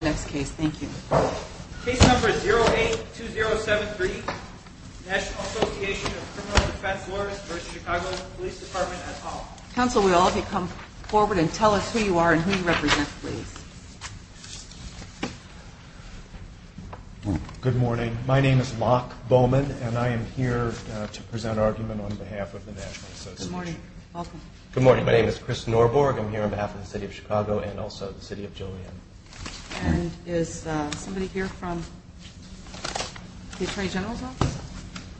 Thank you. Case number 082073, National Association of Criminal Defense Lawyers v. Chicago Police Department, Utah. Counsel, will all of you come forward and tell us who you are and who you represent, please. Good morning. My name is Locke Bowman, and I am here to present argument on behalf of the National Association. Good morning. Welcome. Good morning. My name is Chris Norborg. I am here on behalf of the City of Chicago and also the City of Julian. And is somebody here from the Attorney General's Office?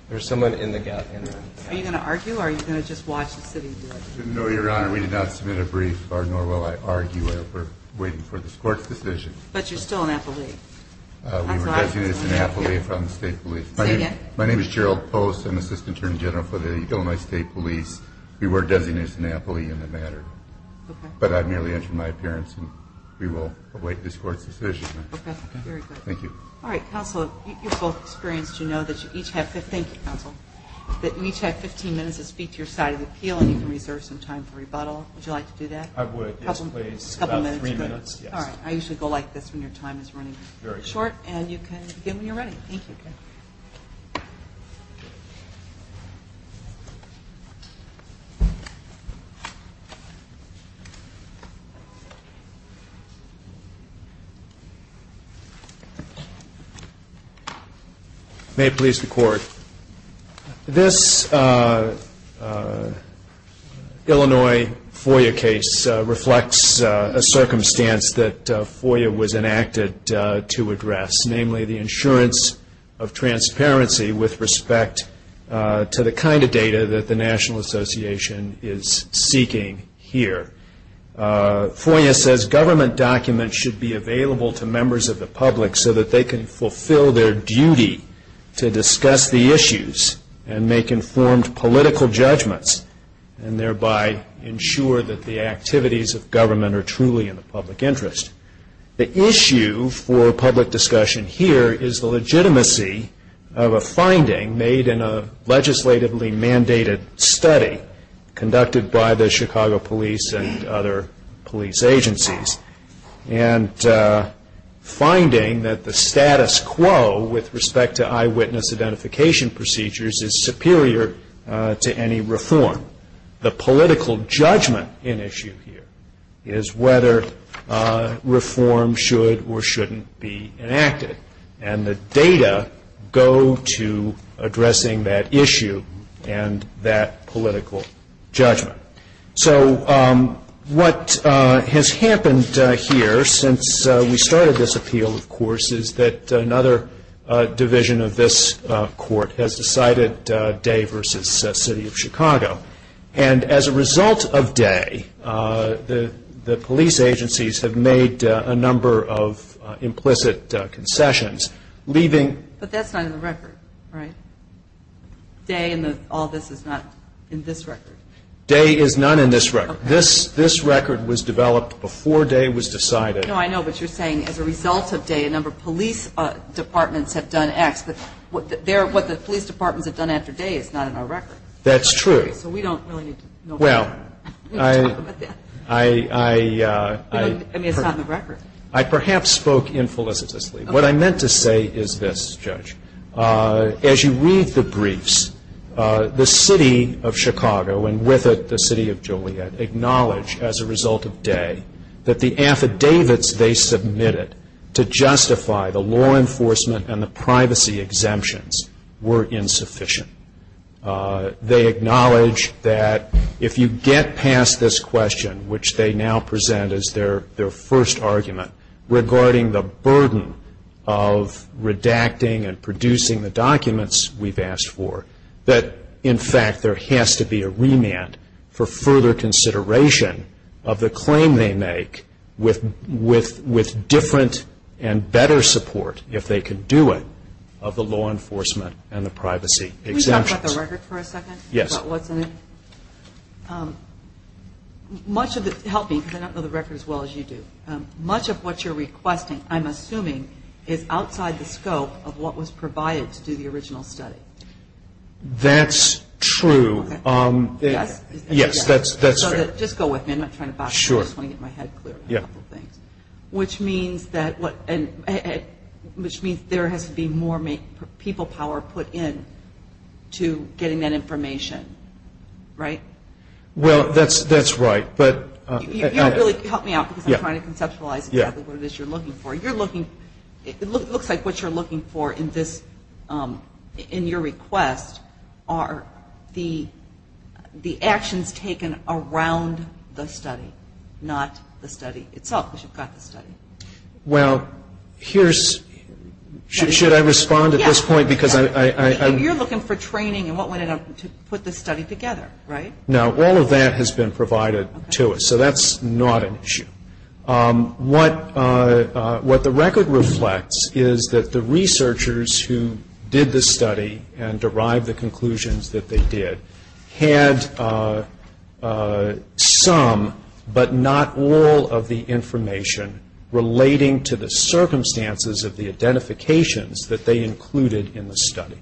There is someone in the gallery. Are you going to argue, or are you going to just watch the city do it? No, Your Honor. We did not submit a brief, nor will I argue. We are waiting for this Court's decision. But you are still an affilee. We were designated as an affilee from the State Police. Say again. My name is Gerald Post. I am the Assistant Attorney General for the Illinois State Police. We were designated as an affilee in the matter. But I merely entered my appearance, and we will await this Court's decision. Okay. Very good. Thank you. All right. Counsel, you are both experienced. You know that you each have 15 minutes to speak to your side of the appeal, and you can reserve some time for rebuttal. Would you like to do that? I would. Just a couple minutes. Just a couple minutes. All right. I usually go like this when your time is running short, and you can begin when you are ready. Thank you. May it please the Court. This Illinois FOIA case reflects a circumstance that FOIA was enacted to address, namely the insurance of transparency with respect to the kind of data that the National Association is seeking here. FOIA says government documents should be available to members of the public so that they can fulfill their duty to discuss the issues and make informed political judgments and thereby ensure that the activities of government are truly in the public interest. The issue for public discussion here is the legitimacy of a finding made in a legislatively mandated study conducted by the Chicago police and other police agencies, and finding that the status quo with respect to eyewitness identification procedures is superior to any reform. The political judgment in issue here is whether reform should or shouldn't be enacted, and the data go to addressing that issue and that political judgment. So what has happened here since we started this appeal, of course, is that another division of this Court has decided Day v. City of Chicago. And as a result of Day, the police agencies have made a number of implicit concessions. But that's not in the record, right? Day and all this is not in this record? Day is not in this record. This record was developed before Day was decided. No, I know, but you're saying as a result of Day, a number of police departments have done X. But what the police departments have done after Day is not in our record. That's true. So we don't really need to talk about that. I mean, it's not in the record. I perhaps spoke infelicitously. What I meant to say is this, Judge. As you read the briefs, the City of Chicago, and with it the City of Joliet, acknowledge as a result of Day that the affidavits they submitted to justify the law enforcement and the privacy exemptions were insufficient. They acknowledge that if you get past this question, which they now present as their first argument, regarding the burden of redacting and producing the documents we've asked for, that in fact there has to be a remand for further consideration of the claim they make with different and better support, if they can do it, of the law enforcement and the privacy exemptions. Can we talk about the record for a second? Yes. Help me because I don't know the record as well as you do. Much of what you're requesting, I'm assuming, is outside the scope of what was provided to do the original study. That's true. Yes? Yes, that's fair. Just go with me. I'm not trying to box you in. I just want to get my head clear on a couple things, which means there has to be more people power put in to getting that information, right? Well, that's right. You don't really help me out because I'm trying to conceptualize exactly what it is you're looking for. It looks like what you're looking for in your request are the actions taken around the study, not the study itself, because you've got the study. Well, should I respond at this point? Yes. You're looking for training and what went into putting the study together, right? Now, all of that has been provided to us, so that's not an issue. What the record reflects is that the researchers who did the study and derived the conclusions that they did had some but not all of the information relating to the circumstances of the identifications that they included in the study.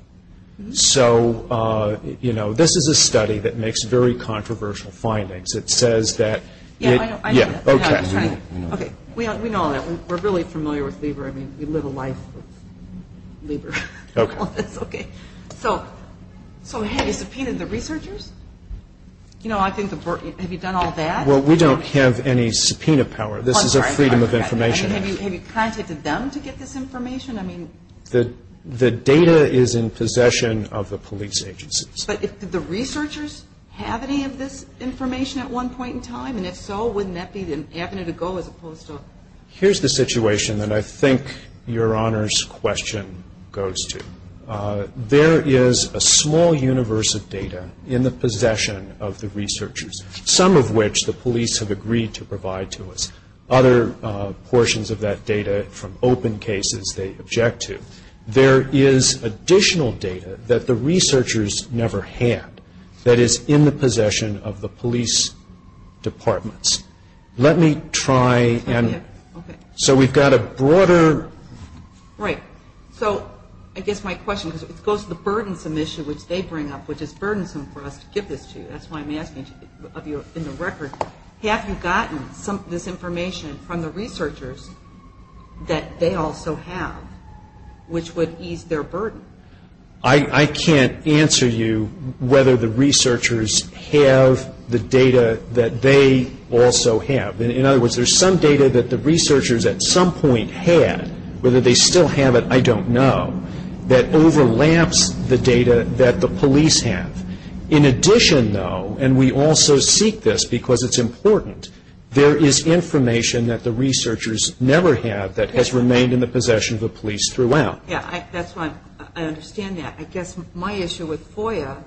So, you know, this is a study that makes very controversial findings. It says that... Yeah, I know. Okay. We know all that. We're really familiar with Lieber. I mean, we live a life of Lieber. Okay. So have you subpoenaed the researchers? You know, I think the... Have you done all that? Well, we don't have any subpoena power. This is a freedom of information. Have you contacted them to get this information? I mean... The data is in possession of the police agencies. But did the researchers have any of this information at one point in time? And if so, wouldn't that be an avenue to go as opposed to... Here's the situation that I think Your Honor's question goes to. There is a small universe of data in the possession of the researchers, some of which the police have agreed to provide to us. Other portions of that data from open cases they object to. There is additional data that the researchers never had, that is in the possession of the police departments. Let me try and... Okay. So we've got a broader... Right. So I guess my question goes to the burdensome issue which they bring up, which is burdensome for us to give this to you. That's why I'm asking of you in the record. Have you gotten this information from the researchers that they also have, which would ease their burden? I can't answer you whether the researchers have the data that they also have. In other words, there's some data that the researchers at some point had, whether they still have it, I don't know, that overlaps the data that the police have. In addition, though, and we also seek this because it's important, there is information that the researchers never have that has remained in the possession of the police throughout. Yeah, that's why I understand that. I guess my issue with FOIA,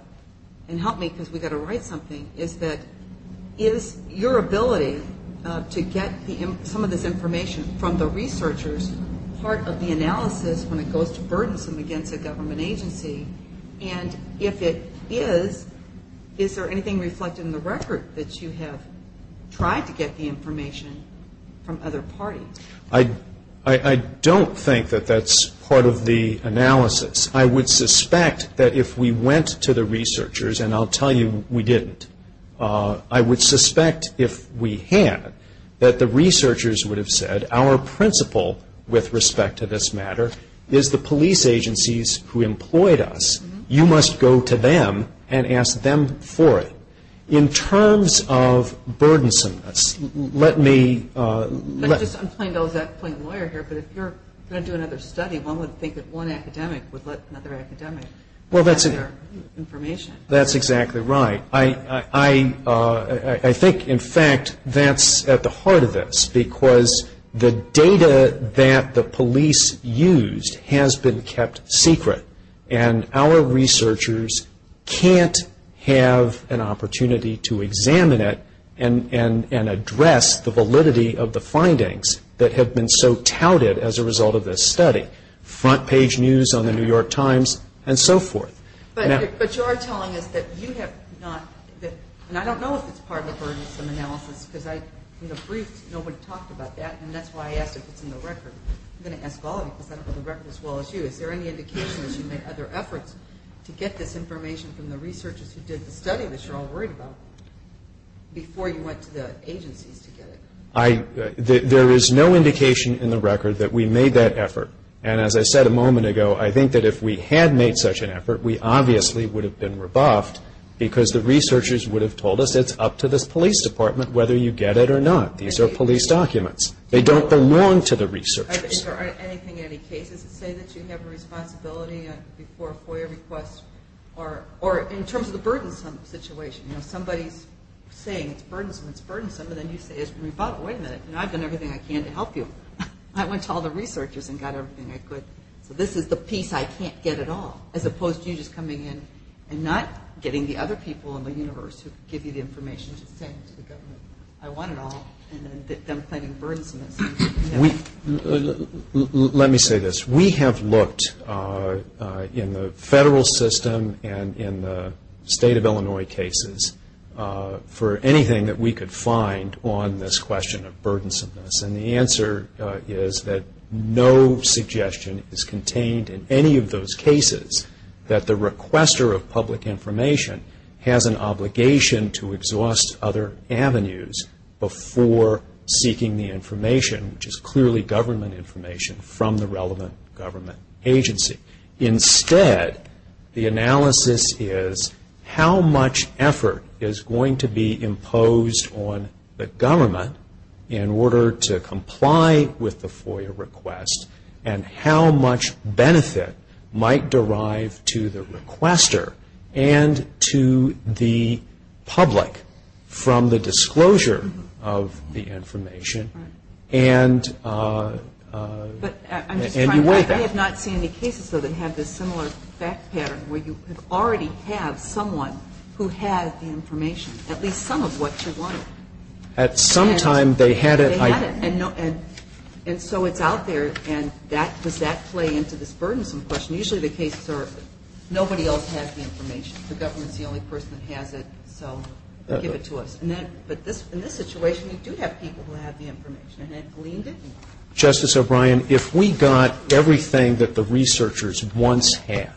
and help me because we've got to write something, is that is your ability to get some of this information from the researchers part of the analysis when it goes to burdensome against a government agency? And if it is, is there anything reflected in the record that you have tried to get the information from other parties? I don't think that that's part of the analysis. I would suspect that if we went to the researchers, and I'll tell you we didn't, I would suspect if we had that the researchers would have said, our principle with respect to this matter is the police agencies who employed us. You must go to them and ask them for it. In terms of burdensomeness, let me ‑‑ I'm playing the lawyer here, but if you're going to do another study, one would think that one academic would let another academic have their information. That's exactly right. I think, in fact, that's at the heart of this, because the data that the police used has been kept secret, and our researchers can't have an opportunity to examine it and address the validity of the findings that have been so touted as a result of this study. Front page news on the New York Times and so forth. But you are telling us that you have not, and I don't know if it's part of the burdensome analysis, because from the briefs nobody talked about that, and that's why I asked if it's in the record. I'm going to ask all of you, because I don't know the record as well as you. Is there any indication that you made other efforts to get this information from the researchers who did the study that you're all worried about before you went to the agencies to get it? There is no indication in the record that we made that effort, and as I said a moment ago, I think that if we had made such an effort, we obviously would have been rebuffed, because the researchers would have told us it's up to this police department whether you get it or not. These are police documents. They don't belong to the researchers. Is there anything in any cases that say that you have a responsibility before a FOIA request, or in terms of the burdensome situation, you know, somebody's saying it's burdensome, it's burdensome, and then you say, wait a minute, I've done everything I can to help you. I went to all the researchers and got everything I could. So this is the piece I can't get at all, as opposed to you just coming in and not getting the other people in the universe who give you the information to say to the government, I want it all, and then them claiming burdensomeness. Let me say this. We have looked in the federal system and in the state of Illinois cases for anything that we could find on this question of burdensomeness, and the answer is that no suggestion is contained in any of those cases that the requester of public information has an obligation to exhaust other avenues before seeking the information, which is clearly government information, from the relevant government agency. Instead, the analysis is how much effort is going to be imposed on the government in order to comply with the FOIA request, and how much benefit might derive to the requester and to the public from the disclosure of the information, and you wait. I have not seen any cases, though, that have this similar fact pattern where you could already have someone who had the information, at least some of what you wanted. At some time, they had it. And so it's out there, and does that play into this burdensome question? Usually the cases are nobody else has the information. The government is the only person that has it, so give it to us. But in this situation, you do have people who have the information, and it gleaned it more. Justice O'Brien, if we got everything that the researchers once had,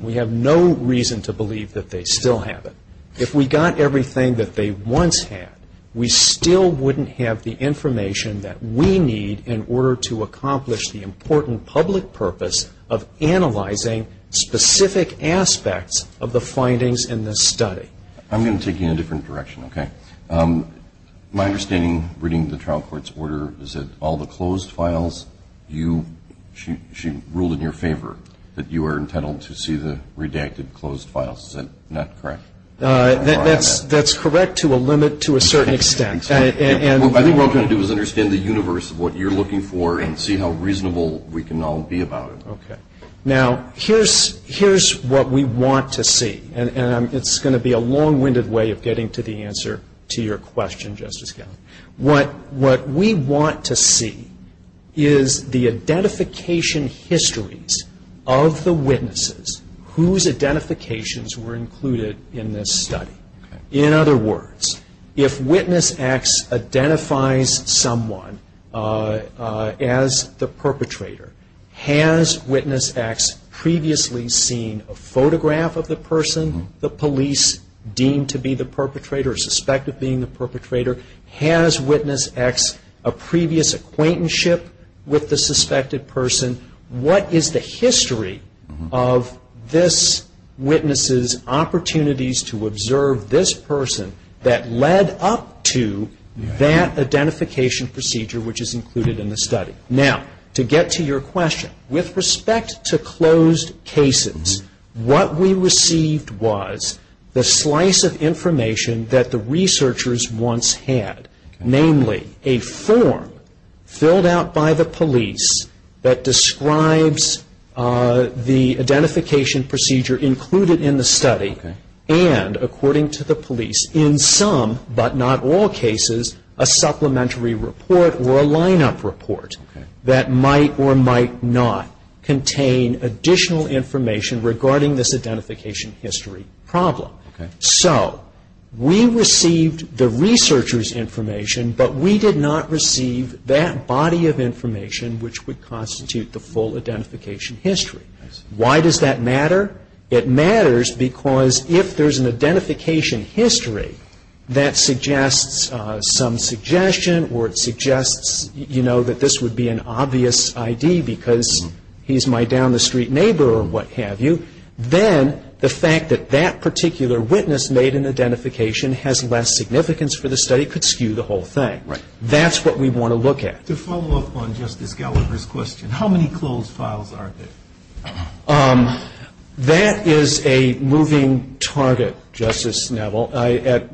we have no reason to believe that they still have it. If we got everything that they once had, we still wouldn't have the information that we need in order to accomplish the important public purpose of analyzing specific aspects of the findings in this study. I'm going to take you in a different direction, okay? My understanding, reading the trial court's order, is that all the closed files, she ruled in your favor that you were intent on to see the redacted closed files. Is that correct? That's correct to a limit, to a certain extent. I think what we're all going to do is understand the universe of what you're looking for and see how reasonable we can all be about it. Okay. Now, here's what we want to see, and it's going to be a long-winded way of getting to the answer to your question, Justice Gellin. What we want to see is the identification histories of the witnesses whose identifications were included in this study. In other words, if witness X identifies someone as the perpetrator, has witness X previously seen a photograph of the person the police deemed to be the perpetrator or suspected of being the perpetrator? Has witness X a previous acquaintanceship with the suspected person? What is the history of this witness's opportunities to observe this person that led up to that identification procedure which is included in the study? Now, to get to your question, with respect to closed cases, what we received was the slice of information that the researchers once had, namely a form filled out by the police that describes the identification procedure included in the study and, according to the police, in some but not all cases, a supplementary report or a lineup report that might or might not contain additional information regarding this identification history problem. Okay. So we received the researchers' information, but we did not receive that body of information which would constitute the full identification history. Why does that matter? It matters because if there's an identification history that suggests some suggestion or it suggests, you know, that this would be an obvious ID because he's my down-the-street neighbor or what have you, then the fact that that particular witness made an identification has less significance for the study could skew the whole thing. Right. That's what we want to look at. To follow up on Justice Gallagher's question, how many closed files are there? That is a moving target, Justice Neville. At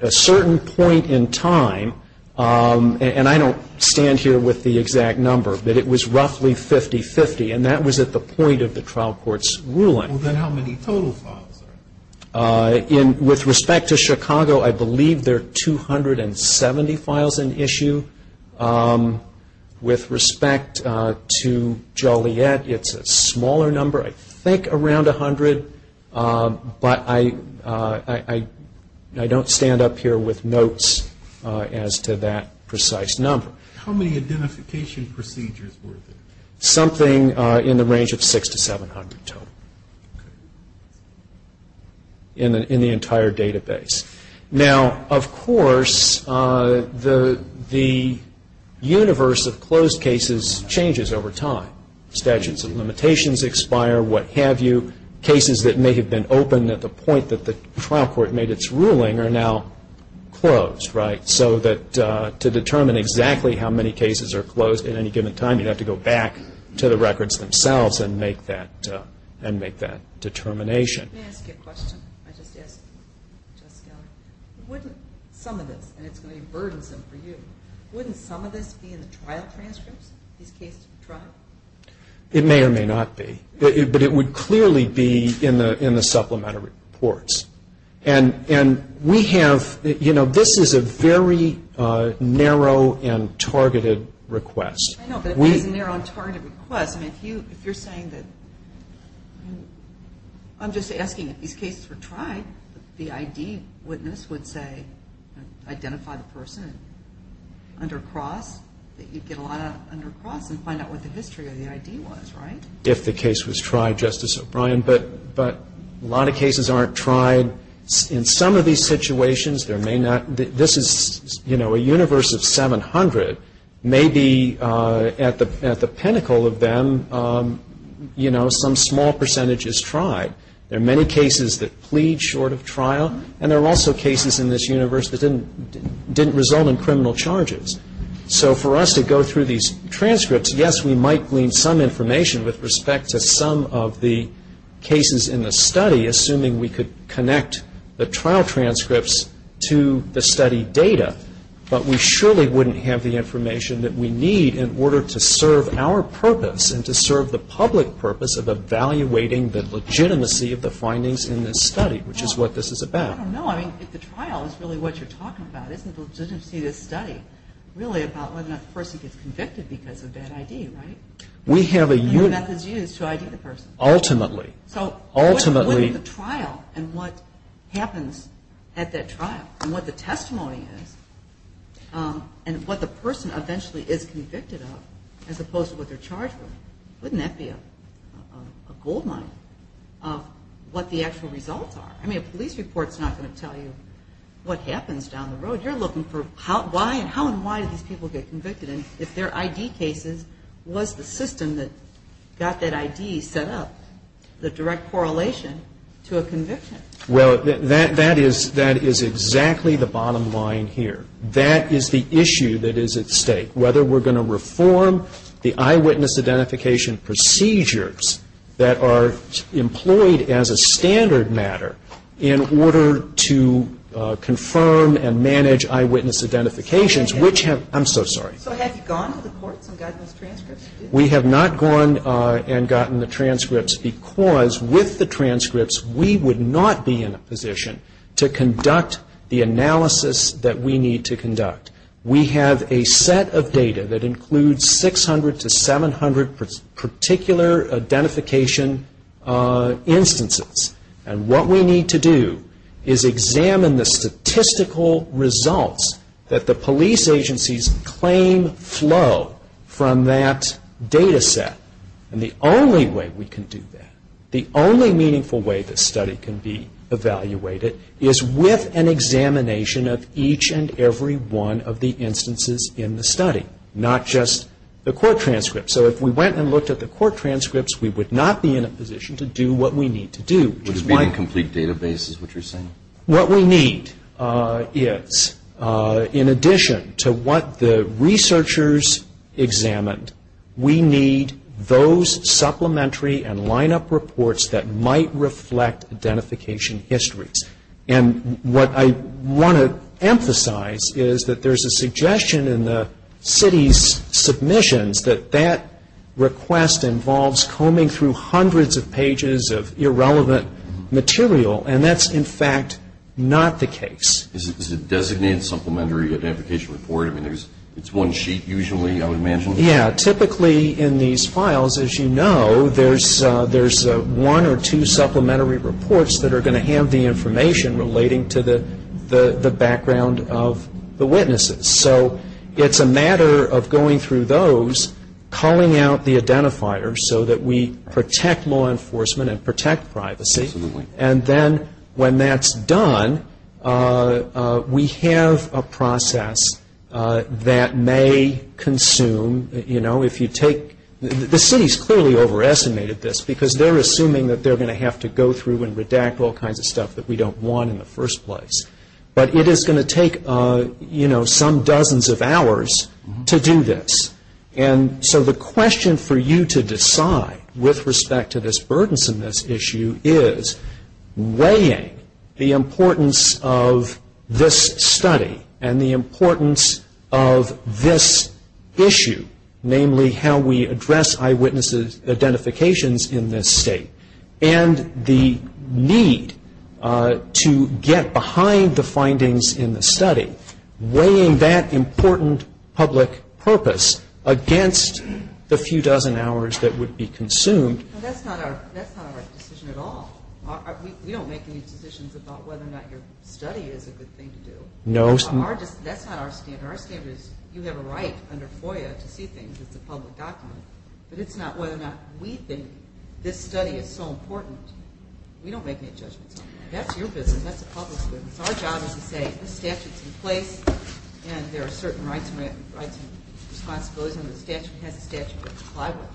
a certain point in time, and I don't stand here with the exact number, but it was roughly 50-50, and that was at the point of the trial court's ruling. Well, then how many total files are there? With respect to Chicago, I believe there are 270 files in issue. With respect to Joliet, it's a smaller number, I think around 100, but I don't stand up here with notes as to that precise number. How many identification procedures were there? Something in the range of 600-700 total in the entire database. Now, of course, the universe of closed cases changes over time. Statutes of limitations expire, what have you. Cases that may have been open at the point that the trial court made its ruling are now closed, right, so that to determine exactly how many cases are closed at any given time, you have to go back to the records themselves and make that determination. Let me ask you a question I just asked Justice Gallagher. Wouldn't some of this, and it's going to be burdensome for you, wouldn't some of this be in the trial transcripts, these cases of the trial? It may or may not be, but it would clearly be in the supplementary reports. And we have, you know, this is a very narrow and targeted request. I know, but it is a narrow and targeted request. I mean, if you're saying that, I'm just asking if these cases were tried, the ID witness would say, identify the person under cross, that you'd get a lot of under cross and find out what the history of the ID was, right? If the case was tried, Justice O'Brien, but a lot of cases aren't tried. In some of these situations, there may not, this is, you know, a universe of 700. Maybe at the pinnacle of them, you know, some small percentage is tried. There are many cases that plead short of trial, and there are also cases in this universe that didn't result in criminal charges. So for us to go through these transcripts, yes, we might glean some information with respect to some of the cases in the study, assuming we could connect the trial transcripts to the study data. But we surely wouldn't have the information that we need in order to serve our purpose and to serve the public purpose of evaluating the legitimacy of the findings in this study, which is what this is about. I don't know, I mean, if the trial is really what you're talking about, isn't the legitimacy of this study really about whether or not the person gets convicted because of bad ID, right? We have a unit. And what method is used to ID the person? Ultimately. So ultimately. What is the trial and what happens at that trial? And what the testimony is, and what the person eventually is convicted of, as opposed to what they're charged with, wouldn't that be a goldmine of what the actual results are? I mean, a police report is not going to tell you what happens down the road. You're looking for why and how and why do these people get convicted and if their ID cases was the system that got that ID set up, the direct correlation to a conviction. Well, that is exactly the bottom line here. That is the issue that is at stake, whether we're going to reform the eyewitness identification procedures that are employed as a standard matter in order to confirm and manage eyewitness identifications, which have ‑‑I'm so sorry. So have you gone to the courts and gotten those transcripts? We have not gone and gotten the transcripts because with the transcripts, we would not be in a position to conduct the analysis that we need to conduct. We have a set of data that includes 600 to 700 particular identification instances, and what we need to do is examine the statistical results that the police agencies claim flow from that data set. And the only way we can do that, the only meaningful way this study can be evaluated, is with an examination of each and every one of the instances in the study, not just the court transcripts. So if we went and looked at the court transcripts, we would not be in a position to do what we need to do. Would it be the complete database is what you're saying? What we need is, in addition to what the researchers examined, we need those supplementary and lineup reports that might reflect identification histories. And what I want to emphasize is that there's a suggestion in the city's submissions that that request involves combing through hundreds of pages of irrelevant material, and that's, in fact, not the case. Is it a designated supplementary identification report? I mean, it's one sheet usually, I would imagine. Yeah. Typically in these files, as you know, there's one or two supplementary reports that are going to have the information relating to the background of the witnesses. So it's a matter of going through those, calling out the identifiers, so that we protect law enforcement and protect privacy. And then when that's done, we have a process that may consume, you know, if you take – the city's clearly overestimated this, because they're assuming that they're going to have to go through and redact all kinds of stuff that we don't want in the first place. But it is going to take, you know, some dozens of hours to do this. And so the question for you to decide with respect to this burdensomeness issue is, weighing the importance of this study and the importance of this issue, namely how we address eyewitness identifications in this state, and the need to get behind the findings in the study, weighing that important public purpose against the few dozen hours that would be consumed. That's not our decision at all. We don't make any decisions about whether or not your study is a good thing to do. No. That's not our standard. Our standard is you have a right under FOIA to see things as a public document. But it's not whether or not we think this study is so important. We don't make any judgments on that. That's your business. That's the public's business. Our job is to say this statute is in place, and there are certain rights and responsibilities, and the statute has a statute that we comply with.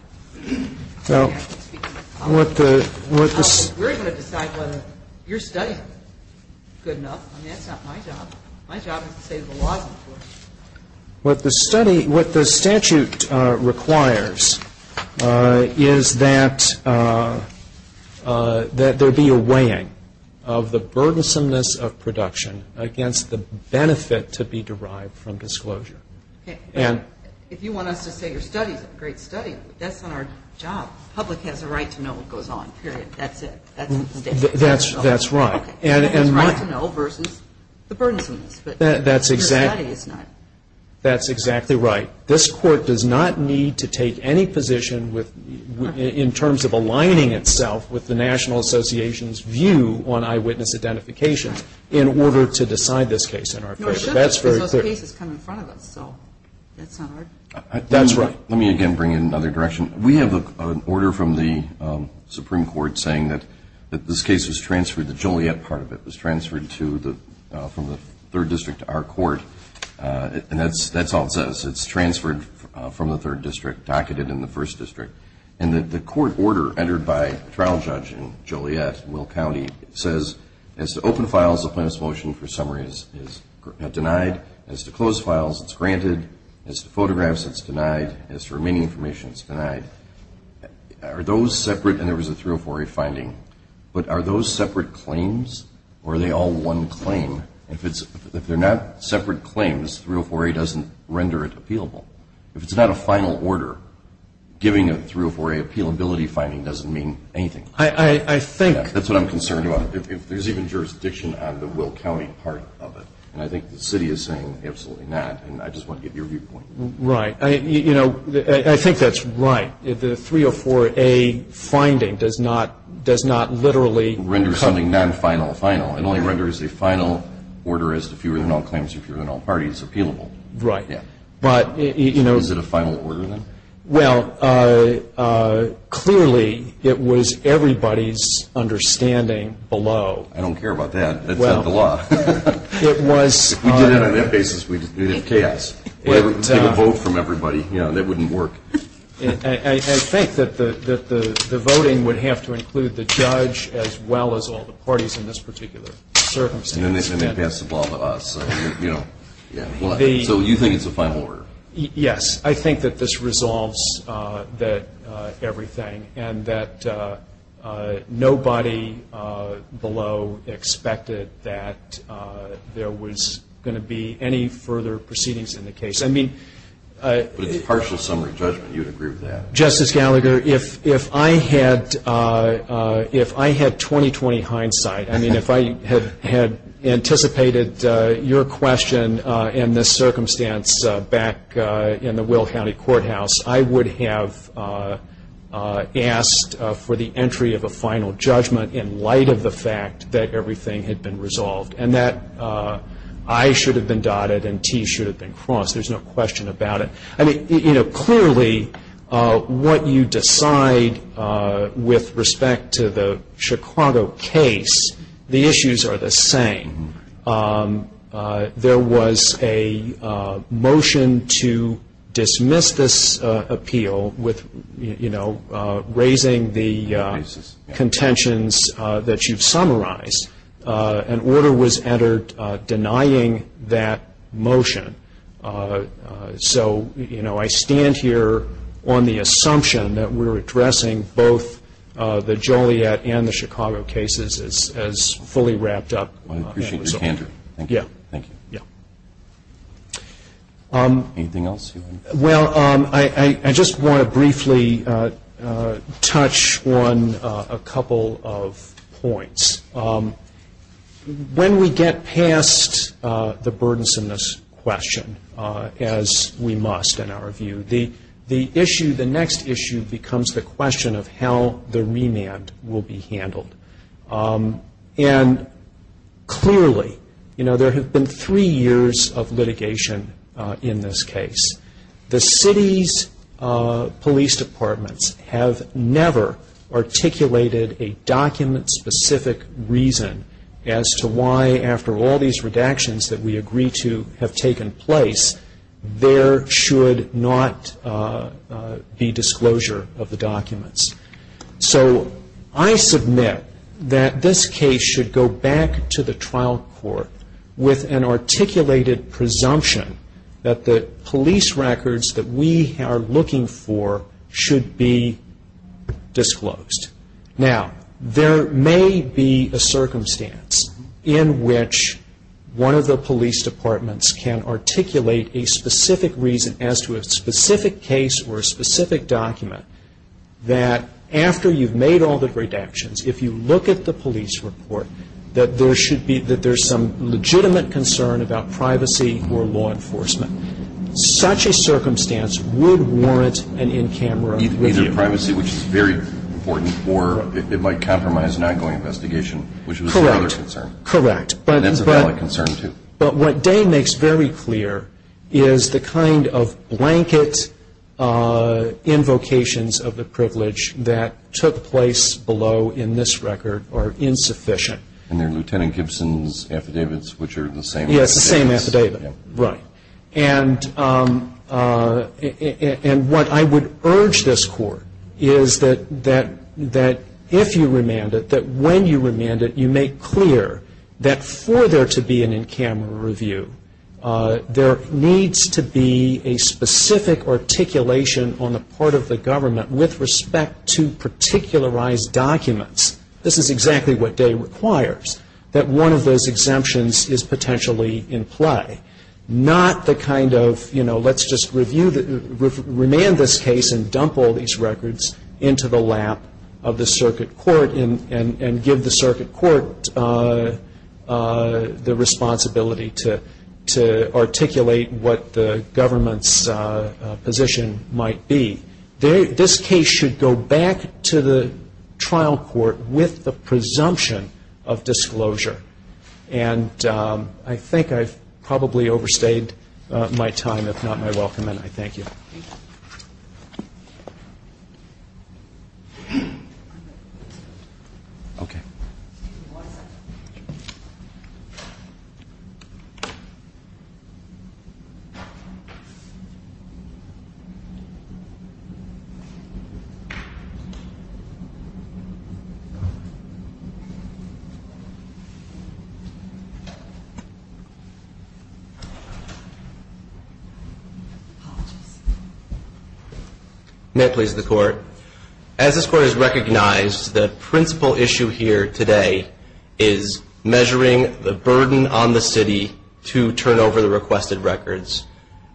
We're going to decide whether your study is good enough. I mean, that's not my job. My job is to say the law is important. What the statute requires is that there be a weighing of the burdensomeness of production against the benefit to be derived from disclosure. Okay. If you want us to say your study is a great study, that's not our job. The public has a right to know what goes on, period. That's it. That's what the statute says. That's right. Okay. The burdensomeness, but your study is not. That's exactly right. This Court does not need to take any position in terms of aligning itself with the National Association's view on eyewitness identifications in order to decide this case in our favor. No, it shouldn't, because those cases come in front of us, so that's not our job. That's right. Let me again bring it in another direction. We have an order from the Supreme Court saying that this case was transferred, the Joliet part of it was transferred from the 3rd District to our court, and that's all it says. It's transferred from the 3rd District, docketed in the 1st District, and that the court order entered by trial judge in Joliet, Will County, says, as to open files, the plaintiff's motion for summary is denied. As to closed files, it's granted. As to photographs, it's denied. As to remaining information, it's denied. Are those separate, and there was a 304A finding, but are those separate claims, or are they all one claim? If they're not separate claims, 304A doesn't render it appealable. If it's not a final order, giving a 304A appealability finding doesn't mean anything. I think that's what I'm concerned about. If there's even jurisdiction on the Will County part of it, and I think the city is saying absolutely not, and I just want to get your viewpoint. Right. You know, I think that's right. The 304A finding does not literally render something non-final final. It only renders a final order as to fewer than all claims or fewer than all parties appealable. Right. But, you know. Is it a final order, then? Well, clearly, it was everybody's understanding below. I don't care about that. That's not the law. It was. If we did it on that basis, we'd have chaos. We'd get a vote from everybody. That wouldn't work. I think that the voting would have to include the judge as well as all the parties in this particular circumstance. And then they'd pass the ball to us. You know. So you think it's a final order? Yes. I think that this resolves everything, and that nobody below expected that there was going to be any further proceedings in the case. But it's a partial summary judgment. You would agree with that? Justice Gallagher, if I had 20-20 hindsight, I mean if I had anticipated your question in this circumstance back in the Will County Courthouse, I would have asked for the entry of a final judgment in light of the fact that everything had been resolved, and that I should have been dotted and T should have been crossed. There's no question about it. I mean, you know, clearly what you decide with respect to the Chicago case, the issues are the same. There was a motion to dismiss this appeal with, you know, raising the contentions that you've summarized. An order was entered denying that motion. So, you know, I stand here on the assumption that we're addressing both the Joliet and the Chicago cases as fully wrapped up. I appreciate your candor. Thank you. Yeah. Thank you. Yeah. Anything else? Well, I just want to briefly touch on a couple of points. When we get past the burdensomeness question, as we must in our view, the issue, the next issue becomes the question of how the remand will be handled. And clearly, you know, there have been three years of litigation in this case. The city's police departments have never articulated a document-specific reason as to why, after all these redactions that we agree to have taken place, there should not be disclosure of the documents. So I submit that this case should go back to the trial court with an articulated presumption that the police records that we are looking for should be disclosed. Now, there may be a circumstance in which one of the police departments can articulate a specific reason as to a specific case or a specific document that after you've made all the redactions, if you look at the police report, that there should be, that there's some legitimate concern about privacy or law enforcement. Such a circumstance would warrant an in-camera review. Either privacy, which is very important, or it might compromise an ongoing investigation, which is another concern. Correct. And that's a valid concern, too. But what Day makes very clear is the kind of blanket invocations of the privilege that took place below in this record are insufficient. And they're Lieutenant Gibson's affidavits, which are the same affidavits. Yes, the same affidavit. Right. And what I would urge this Court is that if you remand it, that when you remand it, you make clear that for there to be an in-camera review, there needs to be a specific articulation on the part of the government with respect to particularized documents. This is exactly what Day requires, that one of those exemptions is potentially in play, not the kind of, you know, let's just remand this case and dump all these records into the lap of the circuit court and give the circuit court the responsibility to articulate what the government's position might be. This case should go back to the trial court with the presumption of disclosure. And I think I've probably overstayed my time, if not my welcome, and I thank you. Thank you. Okay. One second. May it please the Court. As this Court has recognized, the principal issue here today is measuring the burden on the city to turn over the requested records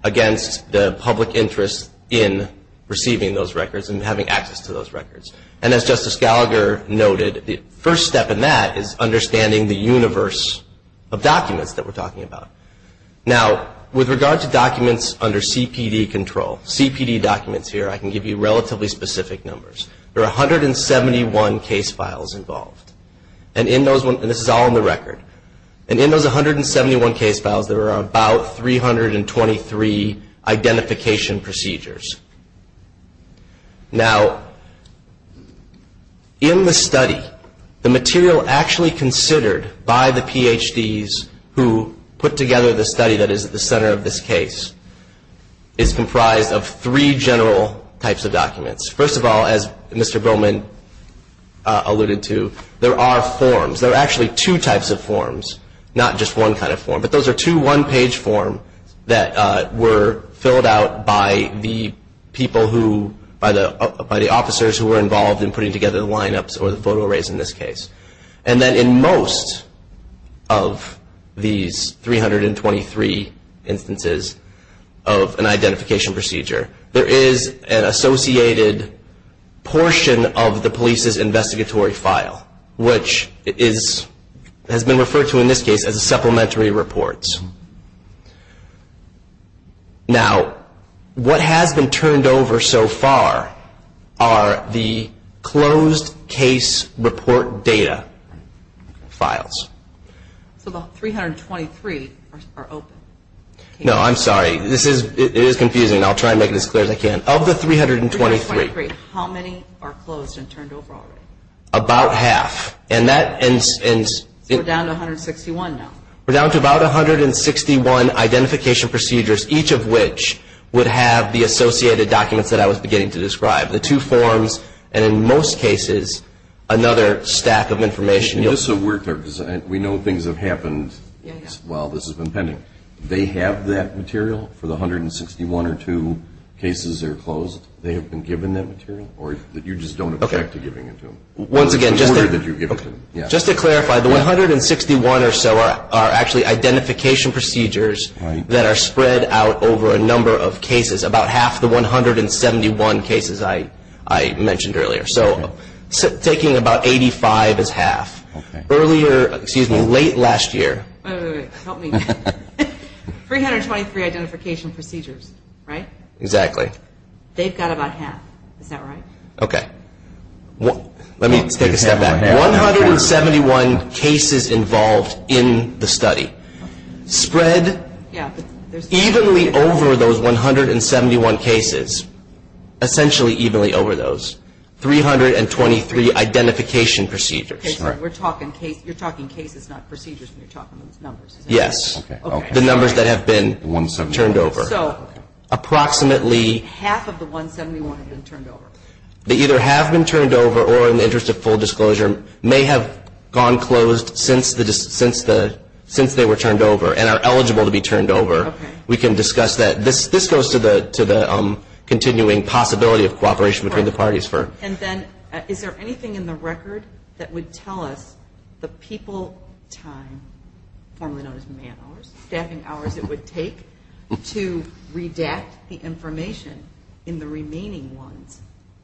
against the public interest in receiving those records and having access to those records. And as Justice Gallagher noted, the first step in that is understanding the universe of documents that we're talking about. Now, with regard to documents under CPD control, CPD documents here, I can give you relatively specific numbers. There are 171 case files involved. And in those, and this is all in the record, and in those 171 case files, there are about 323 identification procedures. Now, in the study, the material actually considered by the PhDs who put together the study that is at the center of this case is comprised of three general types of documents. First of all, as Mr. Bowman alluded to, there are forms. There are actually two types of forms, not just one kind of form. But those are two one-page forms that were filled out by the people who, by the officers who were involved in putting together the lineups or the photo arrays in this case. And then in most of these 323 instances of an identification procedure, there is an associated portion of the police's investigatory file, which has been referred to in this case as a supplementary report. Now, what has been turned over so far are the closed case report data files. So the 323 are open? No, I'm sorry. It is confusing, and I'll try to make it as clear as I can. Of the 323, how many are closed and turned over already? About half. So we're down to 161 now? We're down to about 161 identification procedures, each of which would have the associated documents that I was beginning to describe, the two forms and, in most cases, another stack of information. Just so we're clear, because we know things have happened while this has been pending. They have that material for the 161 or two cases that are closed? They have been given that material, or you just don't object to giving it to them? Once again, just to clarify, the 161 or so are actually identification procedures that are spread out over a number of cases, about half the 171 cases I mentioned earlier. So taking about 85 is half. Earlier, excuse me, late last year. Wait, wait, wait. Help me. 323 identification procedures, right? Exactly. They've got about half. Is that right? Okay. Let me take a step back. 171 cases involved in the study spread evenly over those 171 cases, essentially evenly over those 323 identification procedures. You're talking cases, not procedures when you're talking about numbers. Yes. The numbers that have been turned over. Approximately half of the 171 have been turned over. They either have been turned over or, in the interest of full disclosure, may have gone closed since they were turned over and are eligible to be turned over. Okay. We can discuss that. This goes to the continuing possibility of cooperation between the parties. And then is there anything in the record that would tell us the people time, formerly known as man hours, staffing hours it would take to redact the information in the remaining ones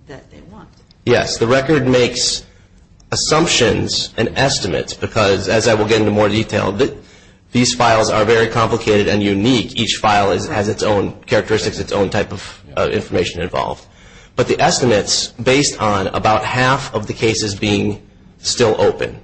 that they want? Yes. The record makes assumptions and estimates because, as I will get into more detail, these files are very complicated and unique. Each file has its own characteristics, its own type of information involved. But the estimates based on about half of the cases being still open.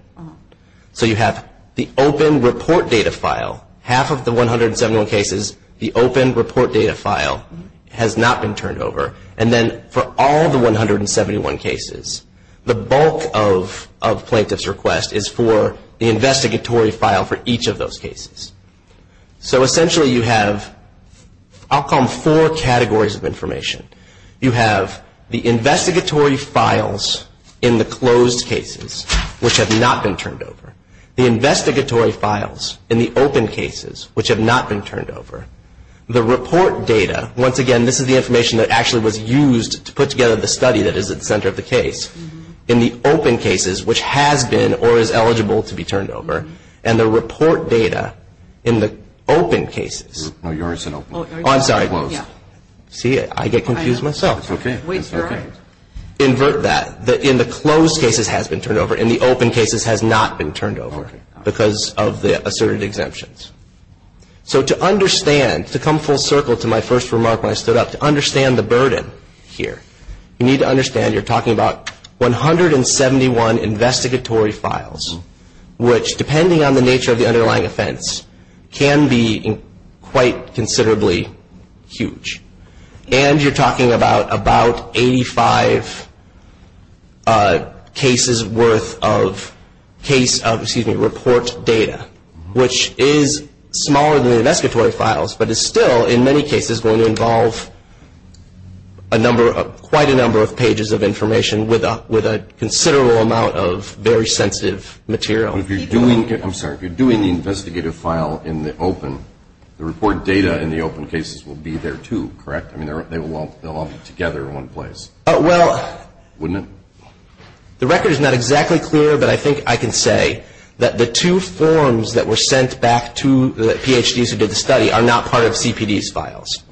So you have the open report data file. Half of the 171 cases, the open report data file has not been turned over. And then for all the 171 cases, the bulk of plaintiff's request is for the investigatory file for each of those cases. So essentially you have, I'll call them four categories of information. You have the investigatory files in the closed cases, which have not been turned over. The investigatory files in the open cases, which have not been turned over. The report data, once again, this is the information that actually was used to put together the study that is at the center of the case. In the open cases, which has been or is eligible to be turned over. And the report data in the open cases. Oh, yours isn't open. Oh, I'm sorry. Mine was. See, I get confused myself. It's okay. Invert that. In the closed cases, it has been turned over. In the open cases, it has not been turned over because of the asserted exemptions. So to understand, to come full circle to my first remark when I stood up, to understand the burden here, you need to understand you're talking about 171 investigatory files, which, depending on the nature of the underlying offense, can be quite considerably huge. And you're talking about 85 cases worth of report data, which is smaller than the investigatory files, but is still in many cases going to involve quite a number of pages of information with a considerable amount of very sensitive material. I'm sorry. If you're doing the investigative file in the open, the report data in the open cases will be there, too, correct? I mean, they'll all be together in one place, wouldn't it? The record is not exactly clear, but I think I can say that the two forms that were sent back to the PhDs who did the study are not part of CPD's files.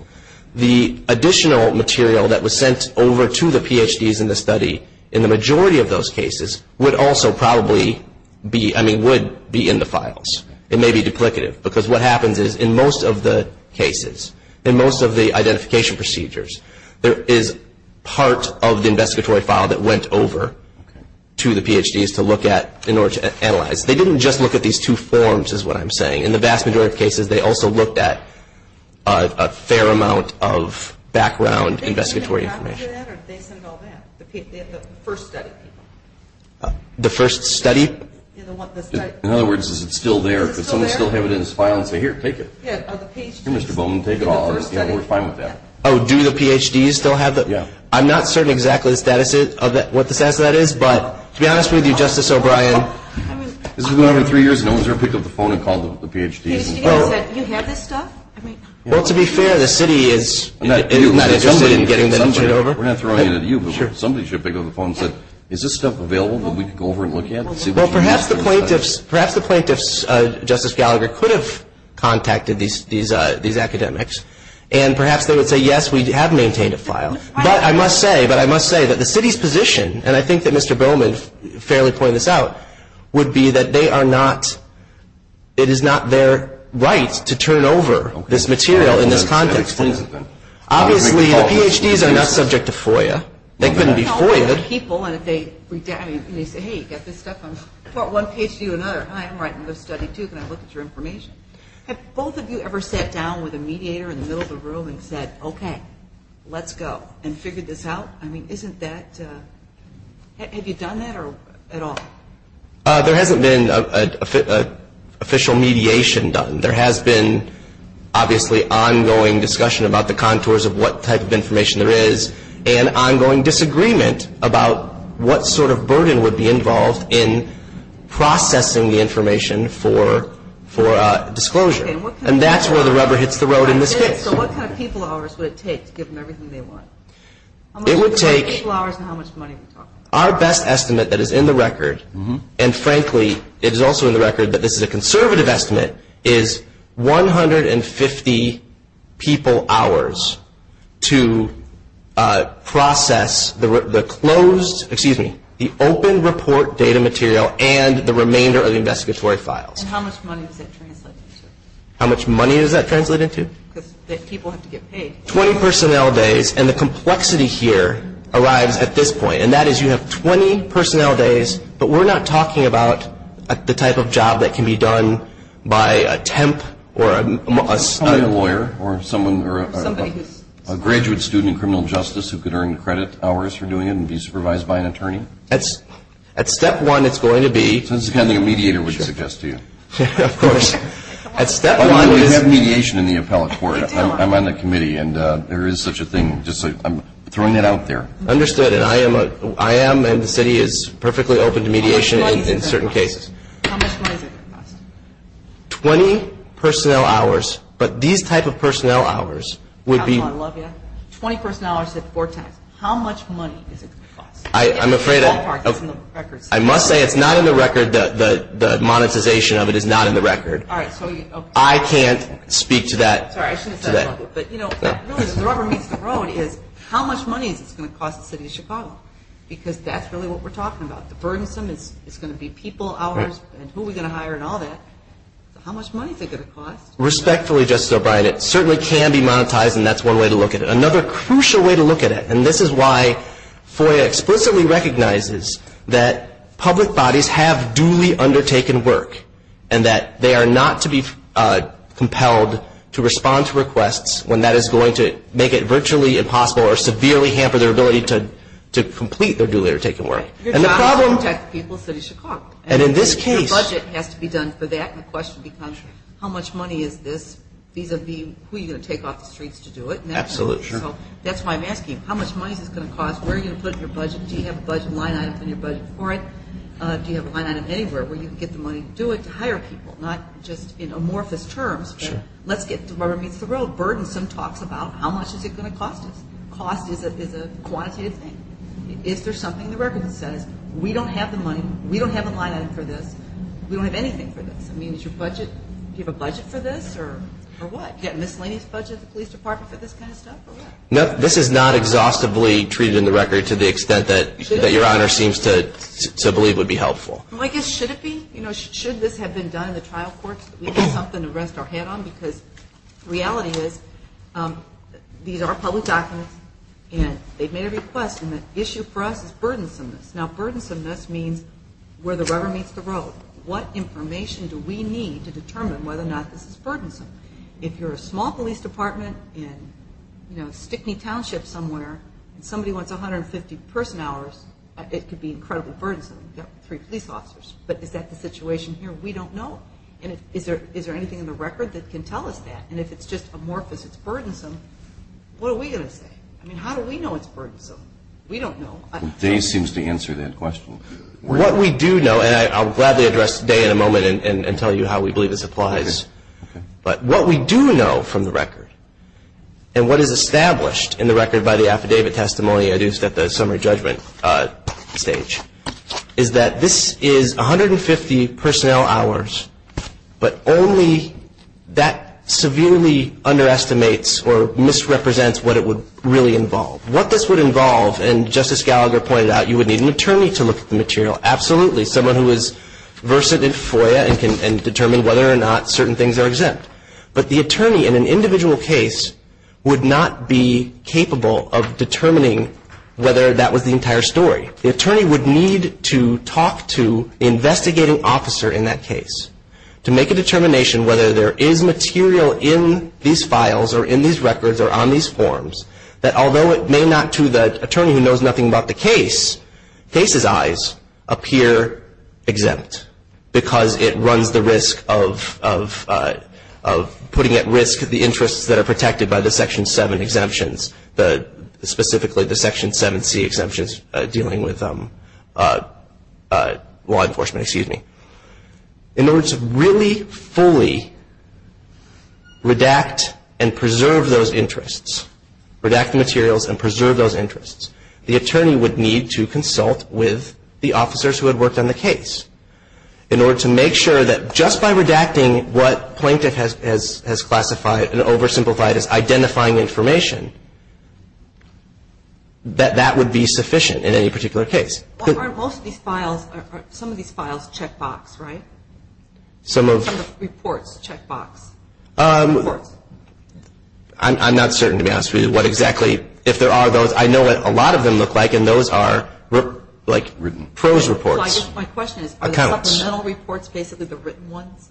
The additional material that was sent over to the PhDs in the study in the majority of those cases would also probably be, I mean, would be in the files. It may be duplicative, because what happens is in most of the cases, in most of the identification procedures, there is part of the investigatory file that went over to the PhDs to look at in order to analyze. They didn't just look at these two forms is what I'm saying. In the vast majority of cases, they also looked at a fair amount of background investigatory information. Did they get a copy of that, or did they send all that, the first study people? The first study? In other words, is it still there? Does someone still have it in his file and say, here, take it? Here, Mr. Bowman, take it all. We're fine with that. Oh, do the PhDs still have it? I'm not certain exactly what the status of that is, but to be honest with you, Justice O'Brien, this has been going on for three years, and no one's ever picked up the phone and called the PhDs. Mr. Gallagher said, you have this stuff? Well, to be fair, the city is not interested in getting this shit over. We're not throwing it at you, but somebody should pick up the phone and say, is this stuff available that we could go over and look at and see what you think? Well, perhaps the plaintiffs, Justice Gallagher, could have contacted these academics, and perhaps they would say, yes, we have maintained a file. But I must say that the city's position, and I think that Mr. Bowman fairly pointed this out, would be that it is not their right to turn over this material in this context. Obviously, the PhDs are not subject to FOIA. They couldn't be FOIA'd. Well, they're people, and they say, hey, you got this stuff? I'm going to put one page to you and another. Hi, I'm writing this study, too. Can I look at your information? Have both of you ever sat down with a mediator in the middle of the room and said, okay, let's go, and figured this out? I mean, isn't that – have you done that at all? There hasn't been an official mediation done. There has been, obviously, ongoing discussion about the contours of what type of information there is and ongoing disagreement about what sort of burden would be involved in processing the information for disclosure. And that's where the rubber hits the road in this case. So what kind of people hours would it take to give them everything they want? It would take – How much people hours and how much money? Our best estimate that is in the record, and frankly, it is also in the record that this is a conservative estimate, is 150 people hours to process the closed – excuse me – the open report data material and the remainder of the investigatory files. And how much money does that translate into? How much money does that translate into? Because people have to get paid. Twenty personnel days, and the complexity here arrives at this point, and that is you have 20 personnel days, but we're not talking about the type of job that can be done by a temp or a – By a lawyer or someone – Somebody who's – A graduate student in criminal justice who could earn credit hours for doing it and be supervised by an attorney? That's – at step one, it's going to be – So this is the kind of thing a mediator would suggest to you. Of course. At step one – We have mediation in the appellate court. I'm on the committee, and there is such a thing. I'm throwing that out there. Understood. And I am – and the city is perfectly open to mediation in certain cases. How much money is it going to cost? Twenty personnel hours, but these type of personnel hours would be – I love you. Twenty personnel hours at four times. How much money is it going to cost? I'm afraid – It's in the ballpark. It's in the record. I must say it's not in the record. The monetization of it is not in the record. All right. So you – I can't speak to that today. Sorry, I shouldn't have said that. But, you know, the rubber meets the road is how much money is it going to cost the city of Chicago? Because that's really what we're talking about. The burdensome is going to be people hours and who are we going to hire and all that. So how much money is it going to cost? Respectfully, Justice O'Brien, it certainly can be monetized, and that's one way to look at it. Another crucial way to look at it – and this is why FOIA explicitly recognizes that public bodies have duly undertaken work and that they are not to be compelled to respond to requests when that is going to make it virtually impossible or severely hamper their ability to complete their duly undertaken work. And the problem – Your job is to protect the people of the city of Chicago. And in this case – Your budget has to be done for that. And the question becomes how much money is this vis-à-vis who you're going to take off the streets to do it. Absolutely. So that's why I'm asking you, how much money is this going to cost? Where are you going to put your budget? Do you have a budget line item in your budget for it? Do you have a line item anywhere where you can get the money to do it, to hire people? Not just in amorphous terms, but let's get to where it meets the road. Burdensome talks about how much is it going to cost us. Cost is a quantitative thing. Is there something in the record that says, we don't have the money, we don't have a line item for this, we don't have anything for this? I mean, is your budget – do you have a budget for this, or what? Do you have a miscellaneous budget at the police department for this kind of stuff, or what? No, this is not exhaustively treated in the record to the extent that Your Honor seems to believe would be helpful. Well, I guess, should it be? You know, should this have been done in the trial courts, that we had something to rest our head on? Because the reality is, these are public documents, and they've made a request, and the issue for us is burdensomeness. Now, burdensomeness means where the rubber meets the road. What information do we need to determine whether or not this is burdensome? If you're a small police department in, you know, Stickney Township somewhere, and somebody wants 150 person hours, it could be incredibly burdensome. You've got three police officers. But is that the situation here? We don't know. And is there anything in the record that can tell us that? And if it's just amorphous, it's burdensome, what are we going to say? I mean, how do we know it's burdensome? We don't know. Dave seems to answer that question. What we do know, and I'll gladly address Dave in a moment and tell you how we believe this applies. But what we do know from the record, and what is established in the record by the affidavit testimony I used at the summary judgment stage, is that this is 150 personnel hours, but only that severely underestimates or misrepresents what it would really involve. What this would involve, and Justice Gallagher pointed out, you would need an attorney to look at the material. Absolutely, someone who is versed in FOIA and can determine whether or not certain things are exempt. But the attorney in an individual case would not be capable of determining whether that was the entire story. The attorney would need to talk to the investigating officer in that case to make a determination whether there is material in these files or in these records or on these forms that although it may not to the attorney who knows nothing about the case, the case's eyes appear exempt because it runs the risk of putting at risk the interests that are protected by the Section 7 exemptions, specifically the Section 7C exemptions dealing with law enforcement. In order to really fully redact and preserve those interests, redact the materials and preserve those interests, the attorney would need to consult with the officers who had worked on the case in order to make sure that just by redacting what Plaintiff has classified and oversimplified as identifying information, that that would be sufficient in any particular case. Aren't most of these files, some of these files checkbox, right? Some of... Some of the reports checkbox. I'm not certain to be honest with you what exactly, if there are those. I know what a lot of them look like and those are like prose reports. My question is, are the supplemental reports basically the written ones?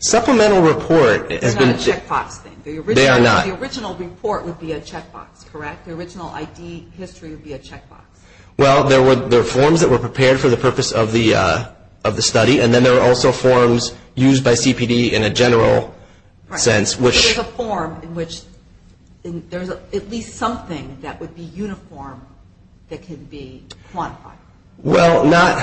Supplemental report... It's not a checkbox thing. They are not. The original report would be a checkbox, correct? The original ID history would be a checkbox. Well, there are forms that were prepared for the purpose of the study and then there are also forms used by CPD in a general sense, which... There's a form in which there's at least something that would be uniform that can be quantified. Well, not...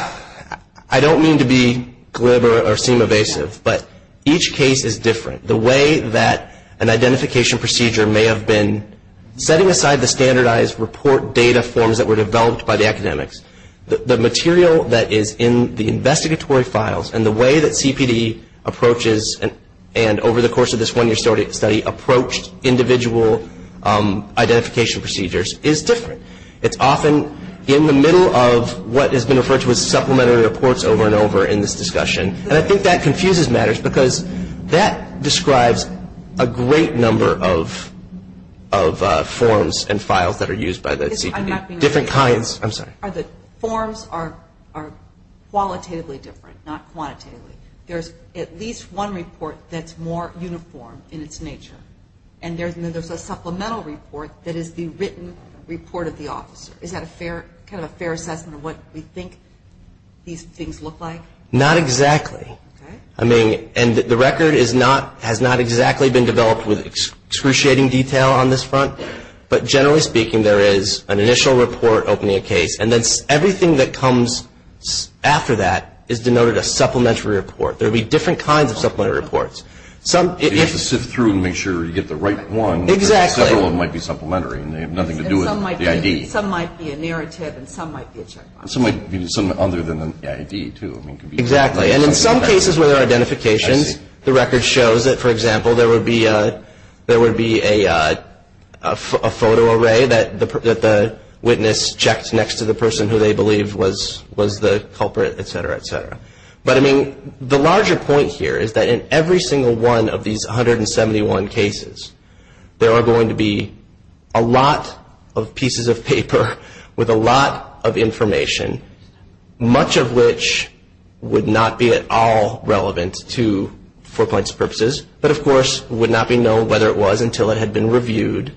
I don't mean to be glib or seem evasive, but each case is different. The way that an identification procedure may have been setting aside the standardized report data forms that were developed by the academics, the material that is in the investigatory files and the way that CPD approaches and, over the course of this one-year study, approached individual identification procedures is different. It's often in the middle of what has been referred to as supplementary reports over and over in this discussion. And I think that confuses matters because that describes a great number of forms and files that are used by the CPD. Different kinds. I'm sorry. The forms are qualitatively different, not quantitatively. There's at least one report that's more uniform in its nature and then there's a supplemental report that is the written report of the officer. Is that kind of a fair assessment of what we think these things look like? Not exactly. Okay. I mean, and the record has not exactly been developed with excruciating detail on this front, but generally speaking, there is an initial report opening a case and then everything that comes after that is denoted a supplementary report. There will be different kinds of supplementary reports. You have to sift through and make sure you get the right one. Exactly. Because several of them might be supplementary and they have nothing to do with the ID. Some might be a narrative and some might be a checkmark. Some might be something other than the ID, too. Exactly. And in some cases where there are identifications, the record shows that, for example, there would be a photo array that the witness checked next to the person who they believe was the culprit, et cetera, et cetera. But, I mean, the larger point here is that in every single one of these 171 cases, there are going to be a lot of pieces of paper with a lot of information, much of which would not be at all relevant for points of purposes. But, of course, it would not be known whether it was until it had been reviewed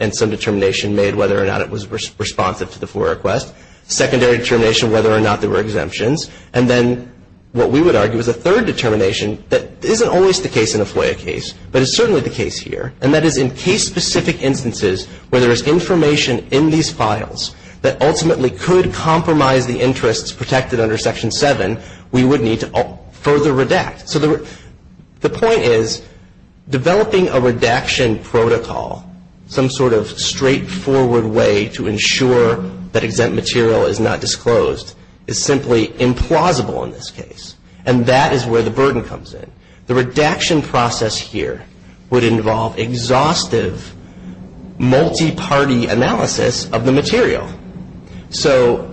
and some determination made whether or not it was responsive to the FOIA request. Secondary determination whether or not there were exemptions. And then what we would argue is a third determination that isn't always the case in a FOIA case, but is certainly the case here, and that is in case-specific instances where there is information in these files that ultimately could compromise the interests protected under Section 7, we would need to further redact. So the point is developing a redaction protocol, some sort of straightforward way to ensure that exempt material is not disclosed, is simply implausible in this case. And that is where the burden comes in. The redaction process here would involve exhaustive, multi-party analysis of the material. So,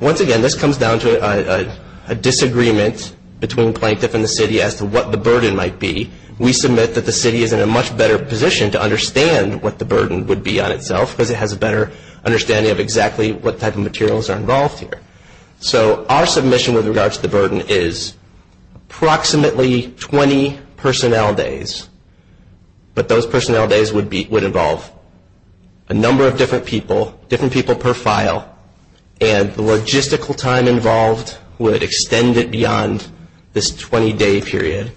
once again, this comes down to a disagreement between Plaintiff and the City as to what the burden might be. We submit that the City is in a much better position to understand what the burden would be on itself because it has a better understanding of exactly what type of materials are involved here. So our submission with regard to the burden is approximately 20 personnel days, but those personnel days would involve a number of different people, people per file, and the logistical time involved would extend it beyond this 20-day period.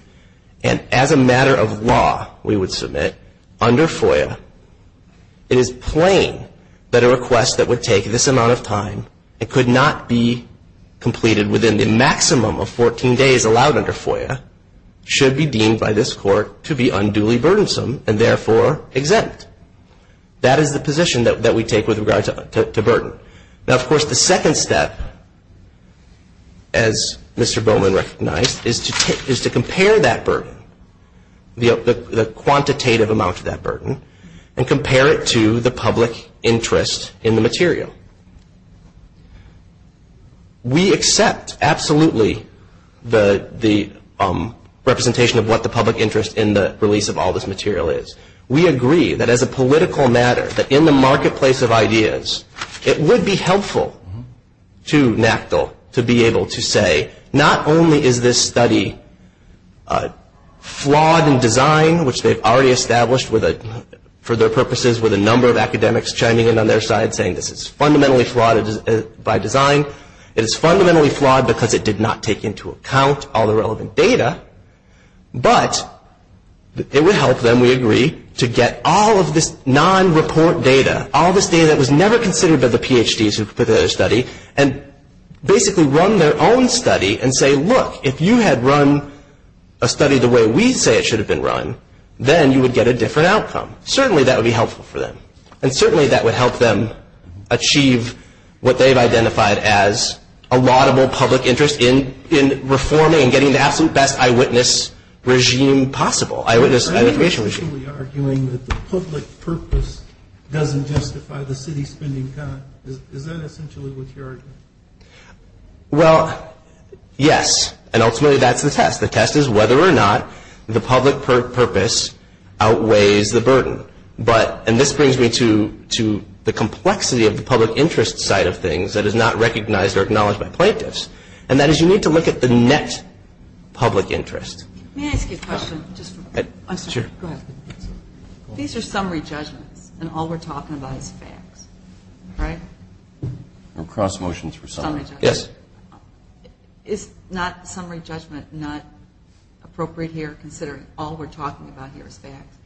And as a matter of law, we would submit under FOIA, it is plain that a request that would take this amount of time and could not be completed within the maximum of 14 days allowed under FOIA should be deemed by this Court to be unduly burdensome and therefore exempt. That is the position that we take with regard to burden. Now, of course, the second step, as Mr. Bowman recognized, is to compare that burden, the quantitative amount of that burden, and compare it to the public interest in the material. We accept absolutely the representation of what the public interest in the release of all this material is. We agree that as a political matter, that in the marketplace of ideas, it would be helpful to NACDL to be able to say, not only is this study flawed in design, which they've already established for their purposes with a number of academics chiming in on their side saying this is fundamentally flawed by design, it is fundamentally flawed because it did not take into account all the relevant data, but it would help them, we agree, to get all of this non-report data, all this data that was never considered by the PhDs who put together the study, and basically run their own study and say, look, if you had run a study the way we say it should have been run, then you would get a different outcome. Certainly that would be helpful for them. And certainly that would help them achieve what they've identified as a laudable public interest in reforming and getting the absolute best eyewitness regime possible, eyewitness identification regime. Are you essentially arguing that the public purpose doesn't justify the city spending time? Is that essentially what you're arguing? Well, yes. And ultimately that's the test. The test is whether or not the public purpose outweighs the burden. And this brings me to the complexity of the public interest side of things that is not recognized or acknowledged by plaintiffs. And that is you need to look at the net public interest. May I ask you a question? Sure. Go ahead. These are summary judgments and all we're talking about is facts, right? Or cross motions for summary. Yes. Is not summary judgment not appropriate here considering all we're talking about here is facts?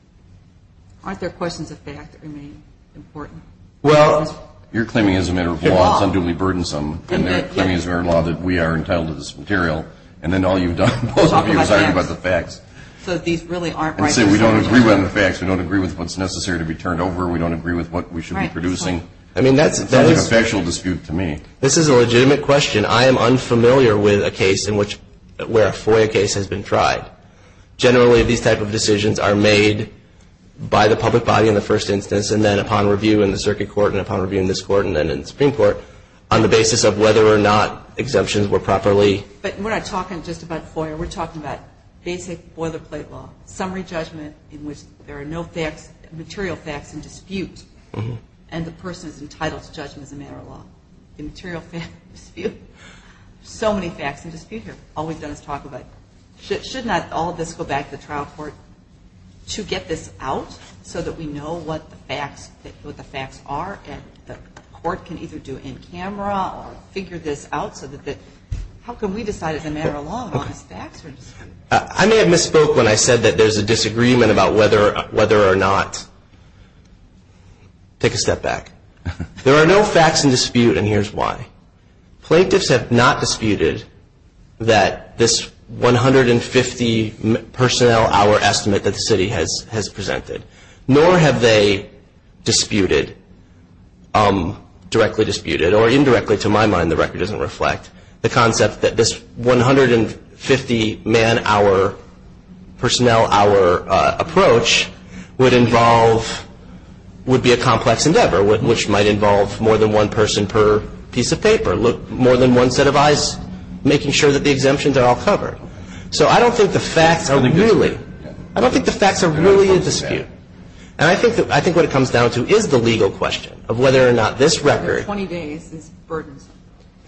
Aren't there questions of fact that remain important? Well, you're claiming as a matter of law it's unduly burdensome. And they're claiming as a matter of law that we are entitled to this material. And then all you've done, both of you, is argue about the facts. So these really aren't right. And say we don't agree with the facts. We don't agree with what's necessary to be turned over. We don't agree with what we should be producing. I mean, that's a factual dispute to me. This is a legitimate question. I am unfamiliar with a case where a FOIA case has been tried. Generally these type of decisions are made by the public body in the first instance and then upon review in the circuit court and upon review in this court and then in the Supreme Court on the basis of whether or not exemptions were properly. But we're not talking just about FOIA. We're talking about basic boilerplate law, summary judgment in which there are no facts, material facts in dispute, and the person is entitled to judgment as a matter of law. The material facts dispute. So many facts in dispute here. All we've done is talk about should not all of this go back to the trial court to get this out so that we know what the facts are and the court can either do it in camera or figure this out so that how can we decide as a matter of law on these facts? I may have misspoke when I said that there's a disagreement about whether or not. Take a step back. There are no facts in dispute, and here's why. Plaintiffs have not disputed that this 150 personnel hour estimate that the city has presented, nor have they disputed, directly disputed, or indirectly to my mind, the record doesn't reflect, the concept that this 150 man hour, personnel hour approach would involve, would be a complex endeavor, which might involve more than one person per piece of paper, more than one set of eyes, making sure that the exemptions are all covered. So I don't think the facts are really, I don't think the facts are really in dispute. And I think what it comes down to is the legal question of whether or not this record. The 20 days is burdensome.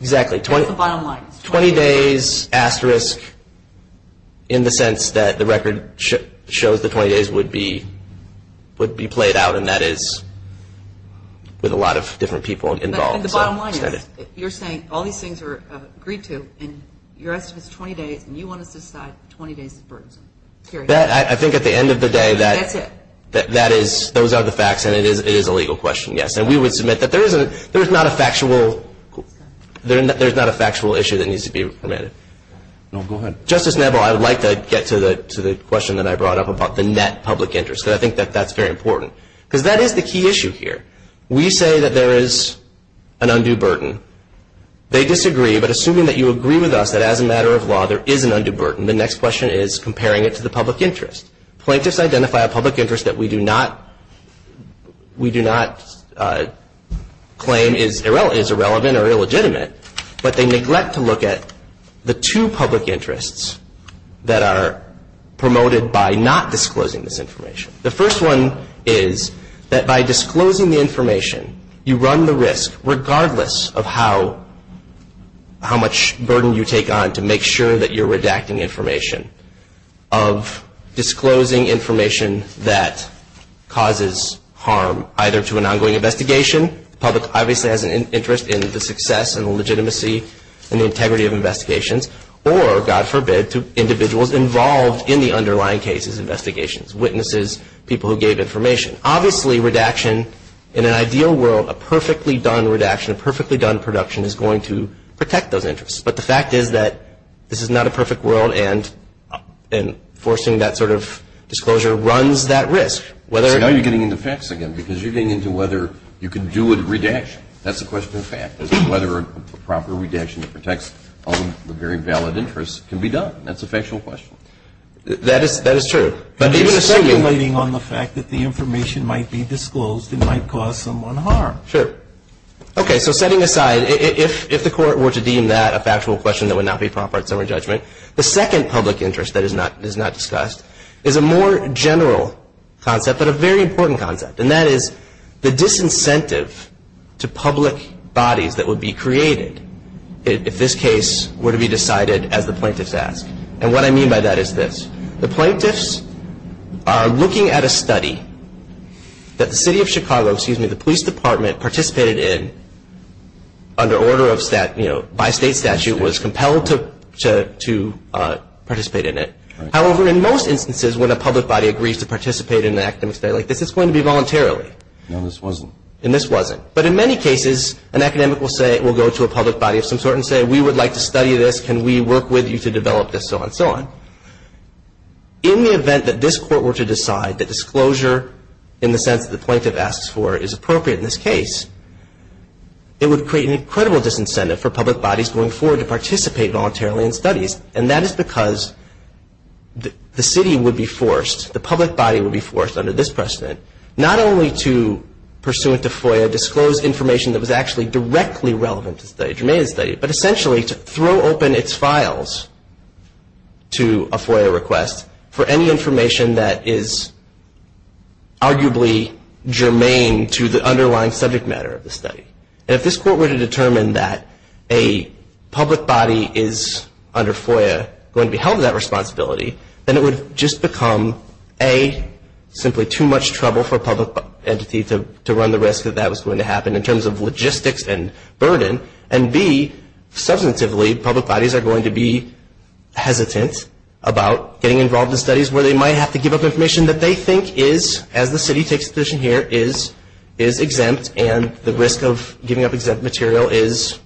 Exactly. That's the bottom line. 20 days, asterisk, in the sense that the record shows the 20 days would be played out, and that is with a lot of different people involved. The bottom line is you're saying all these things are agreed to, and your estimate is 20 days, and you want us to decide 20 days is burdensome. Period. I think at the end of the day that is, those are the facts, and it is a legal question, yes. And we would submit that there is not a factual issue that needs to be permitted. No, go ahead. Justice Neville, I would like to get to the question that I brought up about the net public interest, because I think that that's very important, because that is the key issue here. We say that there is an undue burden. They disagree, but assuming that you agree with us that as a matter of law there is an undue burden, the next question is comparing it to the public interest. Plaintiffs identify a public interest that we do not claim is irrelevant or illegitimate, but they neglect to look at the two public interests that are promoted by not disclosing this information. The first one is that by disclosing the information you run the risk, regardless of how much burden you take on to make sure that you're redacting information, of disclosing information that causes harm either to an ongoing investigation, the public obviously has an interest in the success and the legitimacy and the integrity of investigations, or, God forbid, to individuals involved in the underlying cases, investigations, witnesses, people who gave information. Obviously redaction in an ideal world, a perfectly done redaction, a perfectly done production is going to protect those interests. But the fact is that this is not a perfect world, and forcing that sort of disclosure runs that risk. Whether or not you're getting into facts again, because you're getting into whether you can do a redaction. That's the question of fact, is whether a proper redaction that protects all the very valid interests can be done. That's a factual question. That is true. But even the second one. You're speculating on the fact that the information might be disclosed and might cause someone harm. Sure. Okay. So setting aside, if the court were to deem that a factual question that would not be proper in summary judgment, the second public interest that is not discussed is a more general concept, but a very important concept. And that is the disincentive to public bodies that would be created if this case were to be decided as the plaintiffs ask. And what I mean by that is this. The plaintiffs are looking at a study that the city of Chicago, excuse me, the police department participated in under order of, you know, by state statute was compelled to participate in it. However, in most instances, when a public body agrees to participate in an academic study like this, it's going to be voluntarily. No, this wasn't. And this wasn't. But in many cases, an academic will say, will go to a public body of some sort and say, we would like to study this. Can we work with you to develop this, so on and so on. In the event that this court were to decide that disclosure in the sense that the plaintiff asks for is appropriate in this case, it would create an incredible disincentive for public bodies going forward to participate voluntarily in studies. And that is because the city would be forced, the public body would be forced under this precedent, not only to, pursuant to FOIA, disclose information that was actually directly relevant to study, but essentially to throw open its files to a FOIA request for any information that is arguably germane to the underlying subject matter of the study. And if this court were to determine that a public body is under FOIA going to be held to that responsibility, then it would just become, A, simply too much trouble for a public entity to run the risk that that was going to happen in terms of logistics and burden, and B, substantively, public bodies are going to be hesitant about getting involved in studies where they might have to give up information that they think is, as the city takes a position here, is exempt and the risk of giving up exempt material is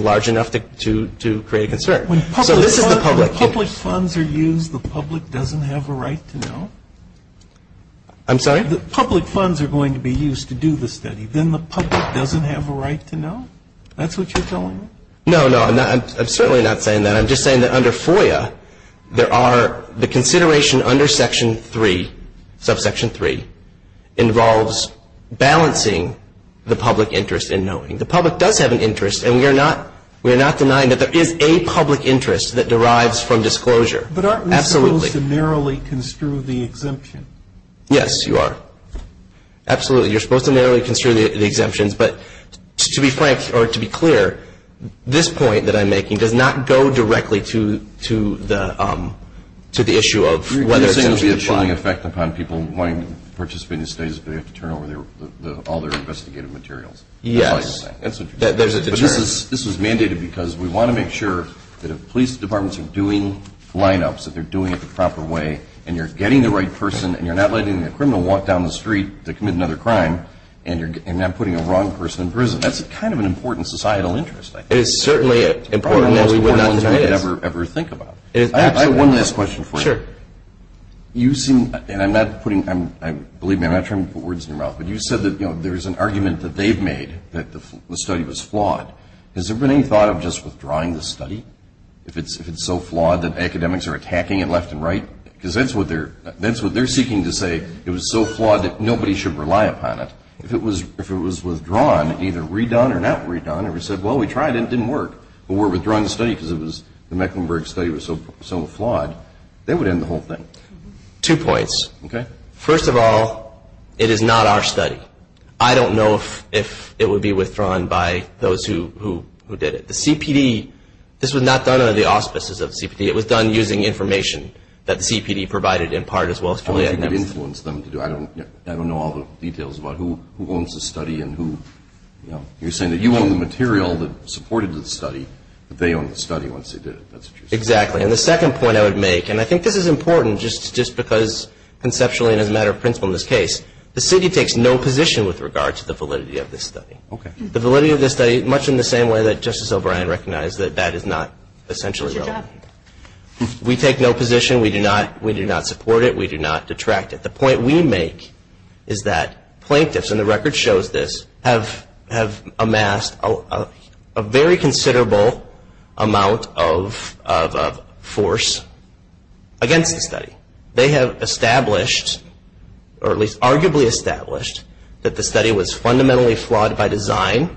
large enough to create a concern. So this is the public case. When public funds are used, the public doesn't have a right to know? I'm sorry? When public funds are going to be used to do the study, then the public doesn't have a right to know? That's what you're telling me? No, no. I'm certainly not saying that. I'm just saying that under FOIA, there are the consideration under Section 3, subsection 3, involves balancing the public interest in knowing. The public does have an interest, and we are not denying that there is a public interest that derives from disclosure. But aren't we supposed to narrowly construe the exemption? Yes, you are. Absolutely. You're supposed to narrowly construe the exemptions. But to be frank, or to be clear, this point that I'm making does not go directly to the issue of whether exemptions apply. You're saying it will be a chilling effect upon people wanting to participate in studies if they have to turn over all their investigative materials? Yes. That's what you're saying? There's a deterrent. But this was mandated because we want to make sure that if police departments are doing lineups, that they're doing it the proper way, and you're getting the right person, and you're not letting a criminal walk down the street to commit another crime, and you're not putting a wrong person in prison. That's kind of an important societal interest. It is certainly an important one. It's probably one of the most important ones we could ever think about. I have one last question for you. Sure. You seem, and I'm not putting, believe me, I'm not trying to put words in your mouth, but you said that, you know, there's an argument that they've made that the study was flawed. Has there been any thought of just withdrawing the study if it's so flawed that academics are attacking it left and right? Because that's what they're seeking to say, it was so flawed that nobody should rely upon it. If it was withdrawn, either redone or not redone, and we said, well, we tried it, it didn't work, but we're withdrawing the study because the Mecklenburg study was so flawed, that would end the whole thing. Two points. Okay. First of all, it is not our study. I don't know if it would be withdrawn by those who did it. The CPD, this was not done under the auspices of the CPD. It was done using information that the CPD provided in part as well as Joliet and Emerson. Only if you could influence them to do it. I don't know all the details about who owns the study and who, you know. You're saying that you own the material that supported the study, but they own the study once they did it. That's what you're saying. Exactly. And the second point I would make, and I think this is important just because conceptually and as a matter of principle in this case, the city takes no position with regard to the validity of this study. Okay. The validity of this study, much in the same way that Justice O'Brien recognized that that is not essentially relevant. We take no position. We do not support it. We do not detract it. The point we make is that plaintiffs, and the record shows this, have amassed a very considerable amount of force against the study. They have established, or at least arguably established, that the study was fundamentally flawed by design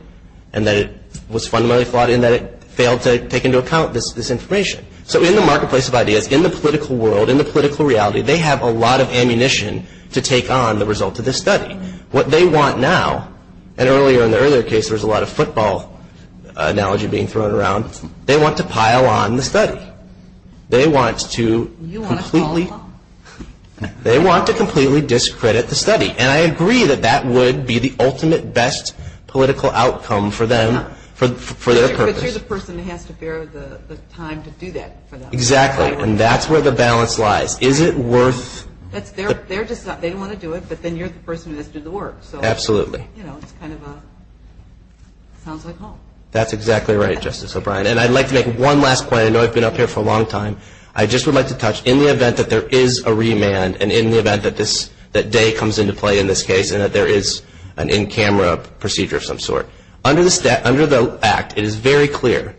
and that it was fundamentally flawed in that it failed to take into account this information. So in the marketplace of ideas, in the political world, in the political reality, they have a lot of ammunition to take on the result of this study. What they want now, and earlier in the earlier case there was a lot of football analogy being thrown around, they want to pile on the study. They want to completely discredit the study. And I agree that that would be the ultimate best political outcome for them, for their purpose. But you're the person who has to bear the time to do that for them. Exactly. And that's where the balance lies. Is it worth? They don't want to do it, but then you're the person who has to do the work. Absolutely. So, you know, it's kind of a, sounds like home. That's exactly right, Justice O'Brien. And I'd like to make one last point. I know I've been up here for a long time. I just would like to touch, in the event that there is a remand, and in the event that day comes into play in this case, and that there is an in-camera procedure of some sort, under the act it is very clear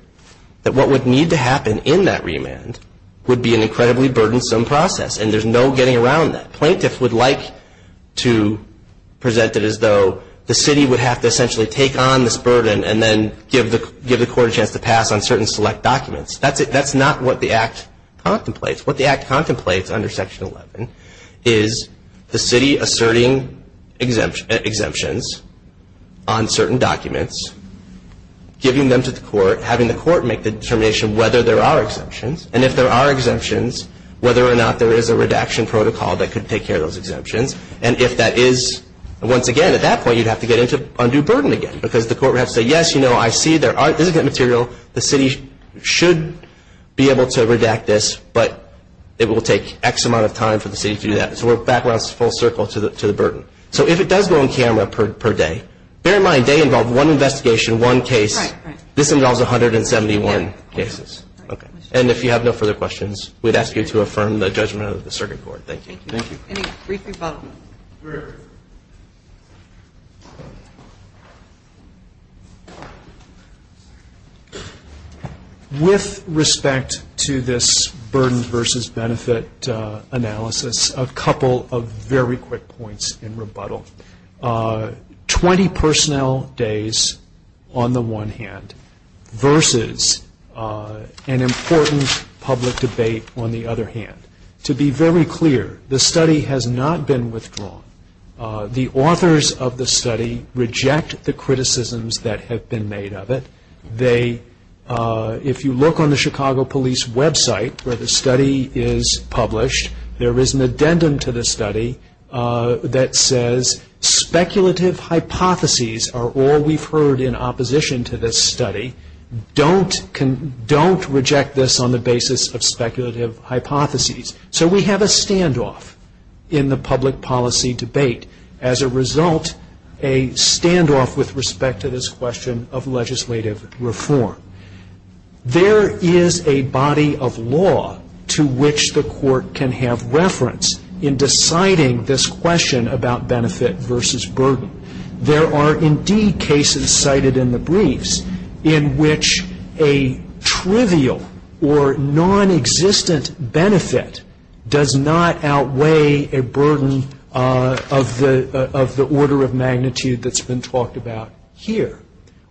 that what would need to happen in that remand would be an incredibly burdensome process, and there's no getting around that. Plaintiffs would like to present it as though the city would have to essentially take on this burden and then give the court a chance to pass on certain select documents. That's not what the act contemplates. Under Section 11 is the city asserting exemptions on certain documents, giving them to the court, having the court make the determination whether there are exemptions, and if there are exemptions, whether or not there is a redaction protocol that could take care of those exemptions. And if that is, once again, at that point you'd have to get into undue burden again, because the court would have to say, yes, you know, I see there is material. The city should be able to redact this, but it will take X amount of time for the city to do that. So we're back around full circle to the burden. So if it does go on camera per day, bear in mind they involve one investigation, one case. This involves 171 cases. And if you have no further questions, we'd ask you to affirm the judgment of the circuit court. Thank you. Thank you. Any brief rebuttals? With respect to this burden versus benefit analysis, a couple of very quick points in rebuttal. Twenty personnel days on the one hand versus an important public debate on the other hand. To be very clear, the study has not been withdrawn. The authors of the study reject the criticisms that have been made of it. If you look on the Chicago Police website where the study is published, there is an addendum to the study that says speculative hypotheses are all we've heard in opposition to this study. Don't reject this on the basis of speculative hypotheses. So we have a standoff in the public policy debate. As a result, a standoff with respect to this question of legislative reform. There is a body of law to which the court can have reference in deciding this question about benefit versus burden. There are indeed cases cited in the briefs in which a trivial or nonexistent benefit does not outweigh a burden of the order of magnitude that's been talked about here.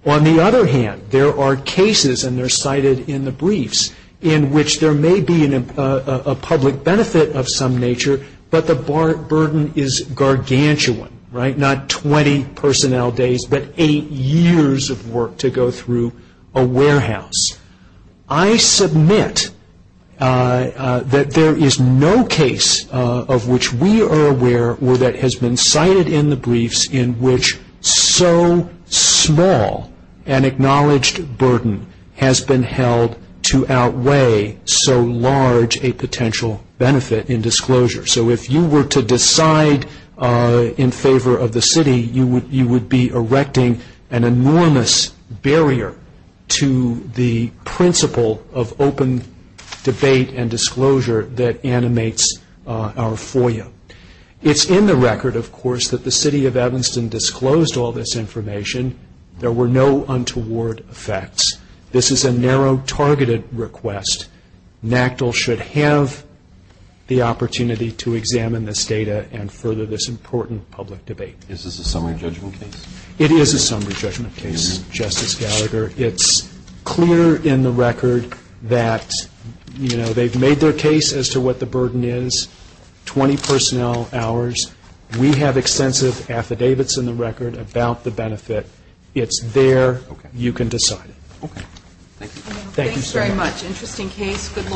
On the other hand, there are cases, and they're cited in the briefs, in which there may be a public benefit of some nature, but the burden is gargantuan, right? Not 20 personnel days, but eight years of work to go through a warehouse. I submit that there is no case of which we are aware or that has been cited in the briefs in which so small an acknowledged burden has been held to outweigh so large a potential benefit in disclosure. So if you were to decide in favor of the city, you would be erecting an enormous barrier to the principle of open debate and disclosure that animates our FOIA. It's in the record, of course, that the city of Evanston disclosed all this information. There were no untoward effects. This is a narrow targeted request. NACDL should have the opportunity to examine this data and further this important public debate. Is this a summary judgment case? It is a summary judgment case, Justice Gallagher. It's clear in the record that, you know, they've made their case as to what the burden is, 20 personnel hours. We have extensive affidavits in the record about the benefit. It's there. You can decide. Okay. Thank you. Thanks very much. Interesting case. Good lawyer.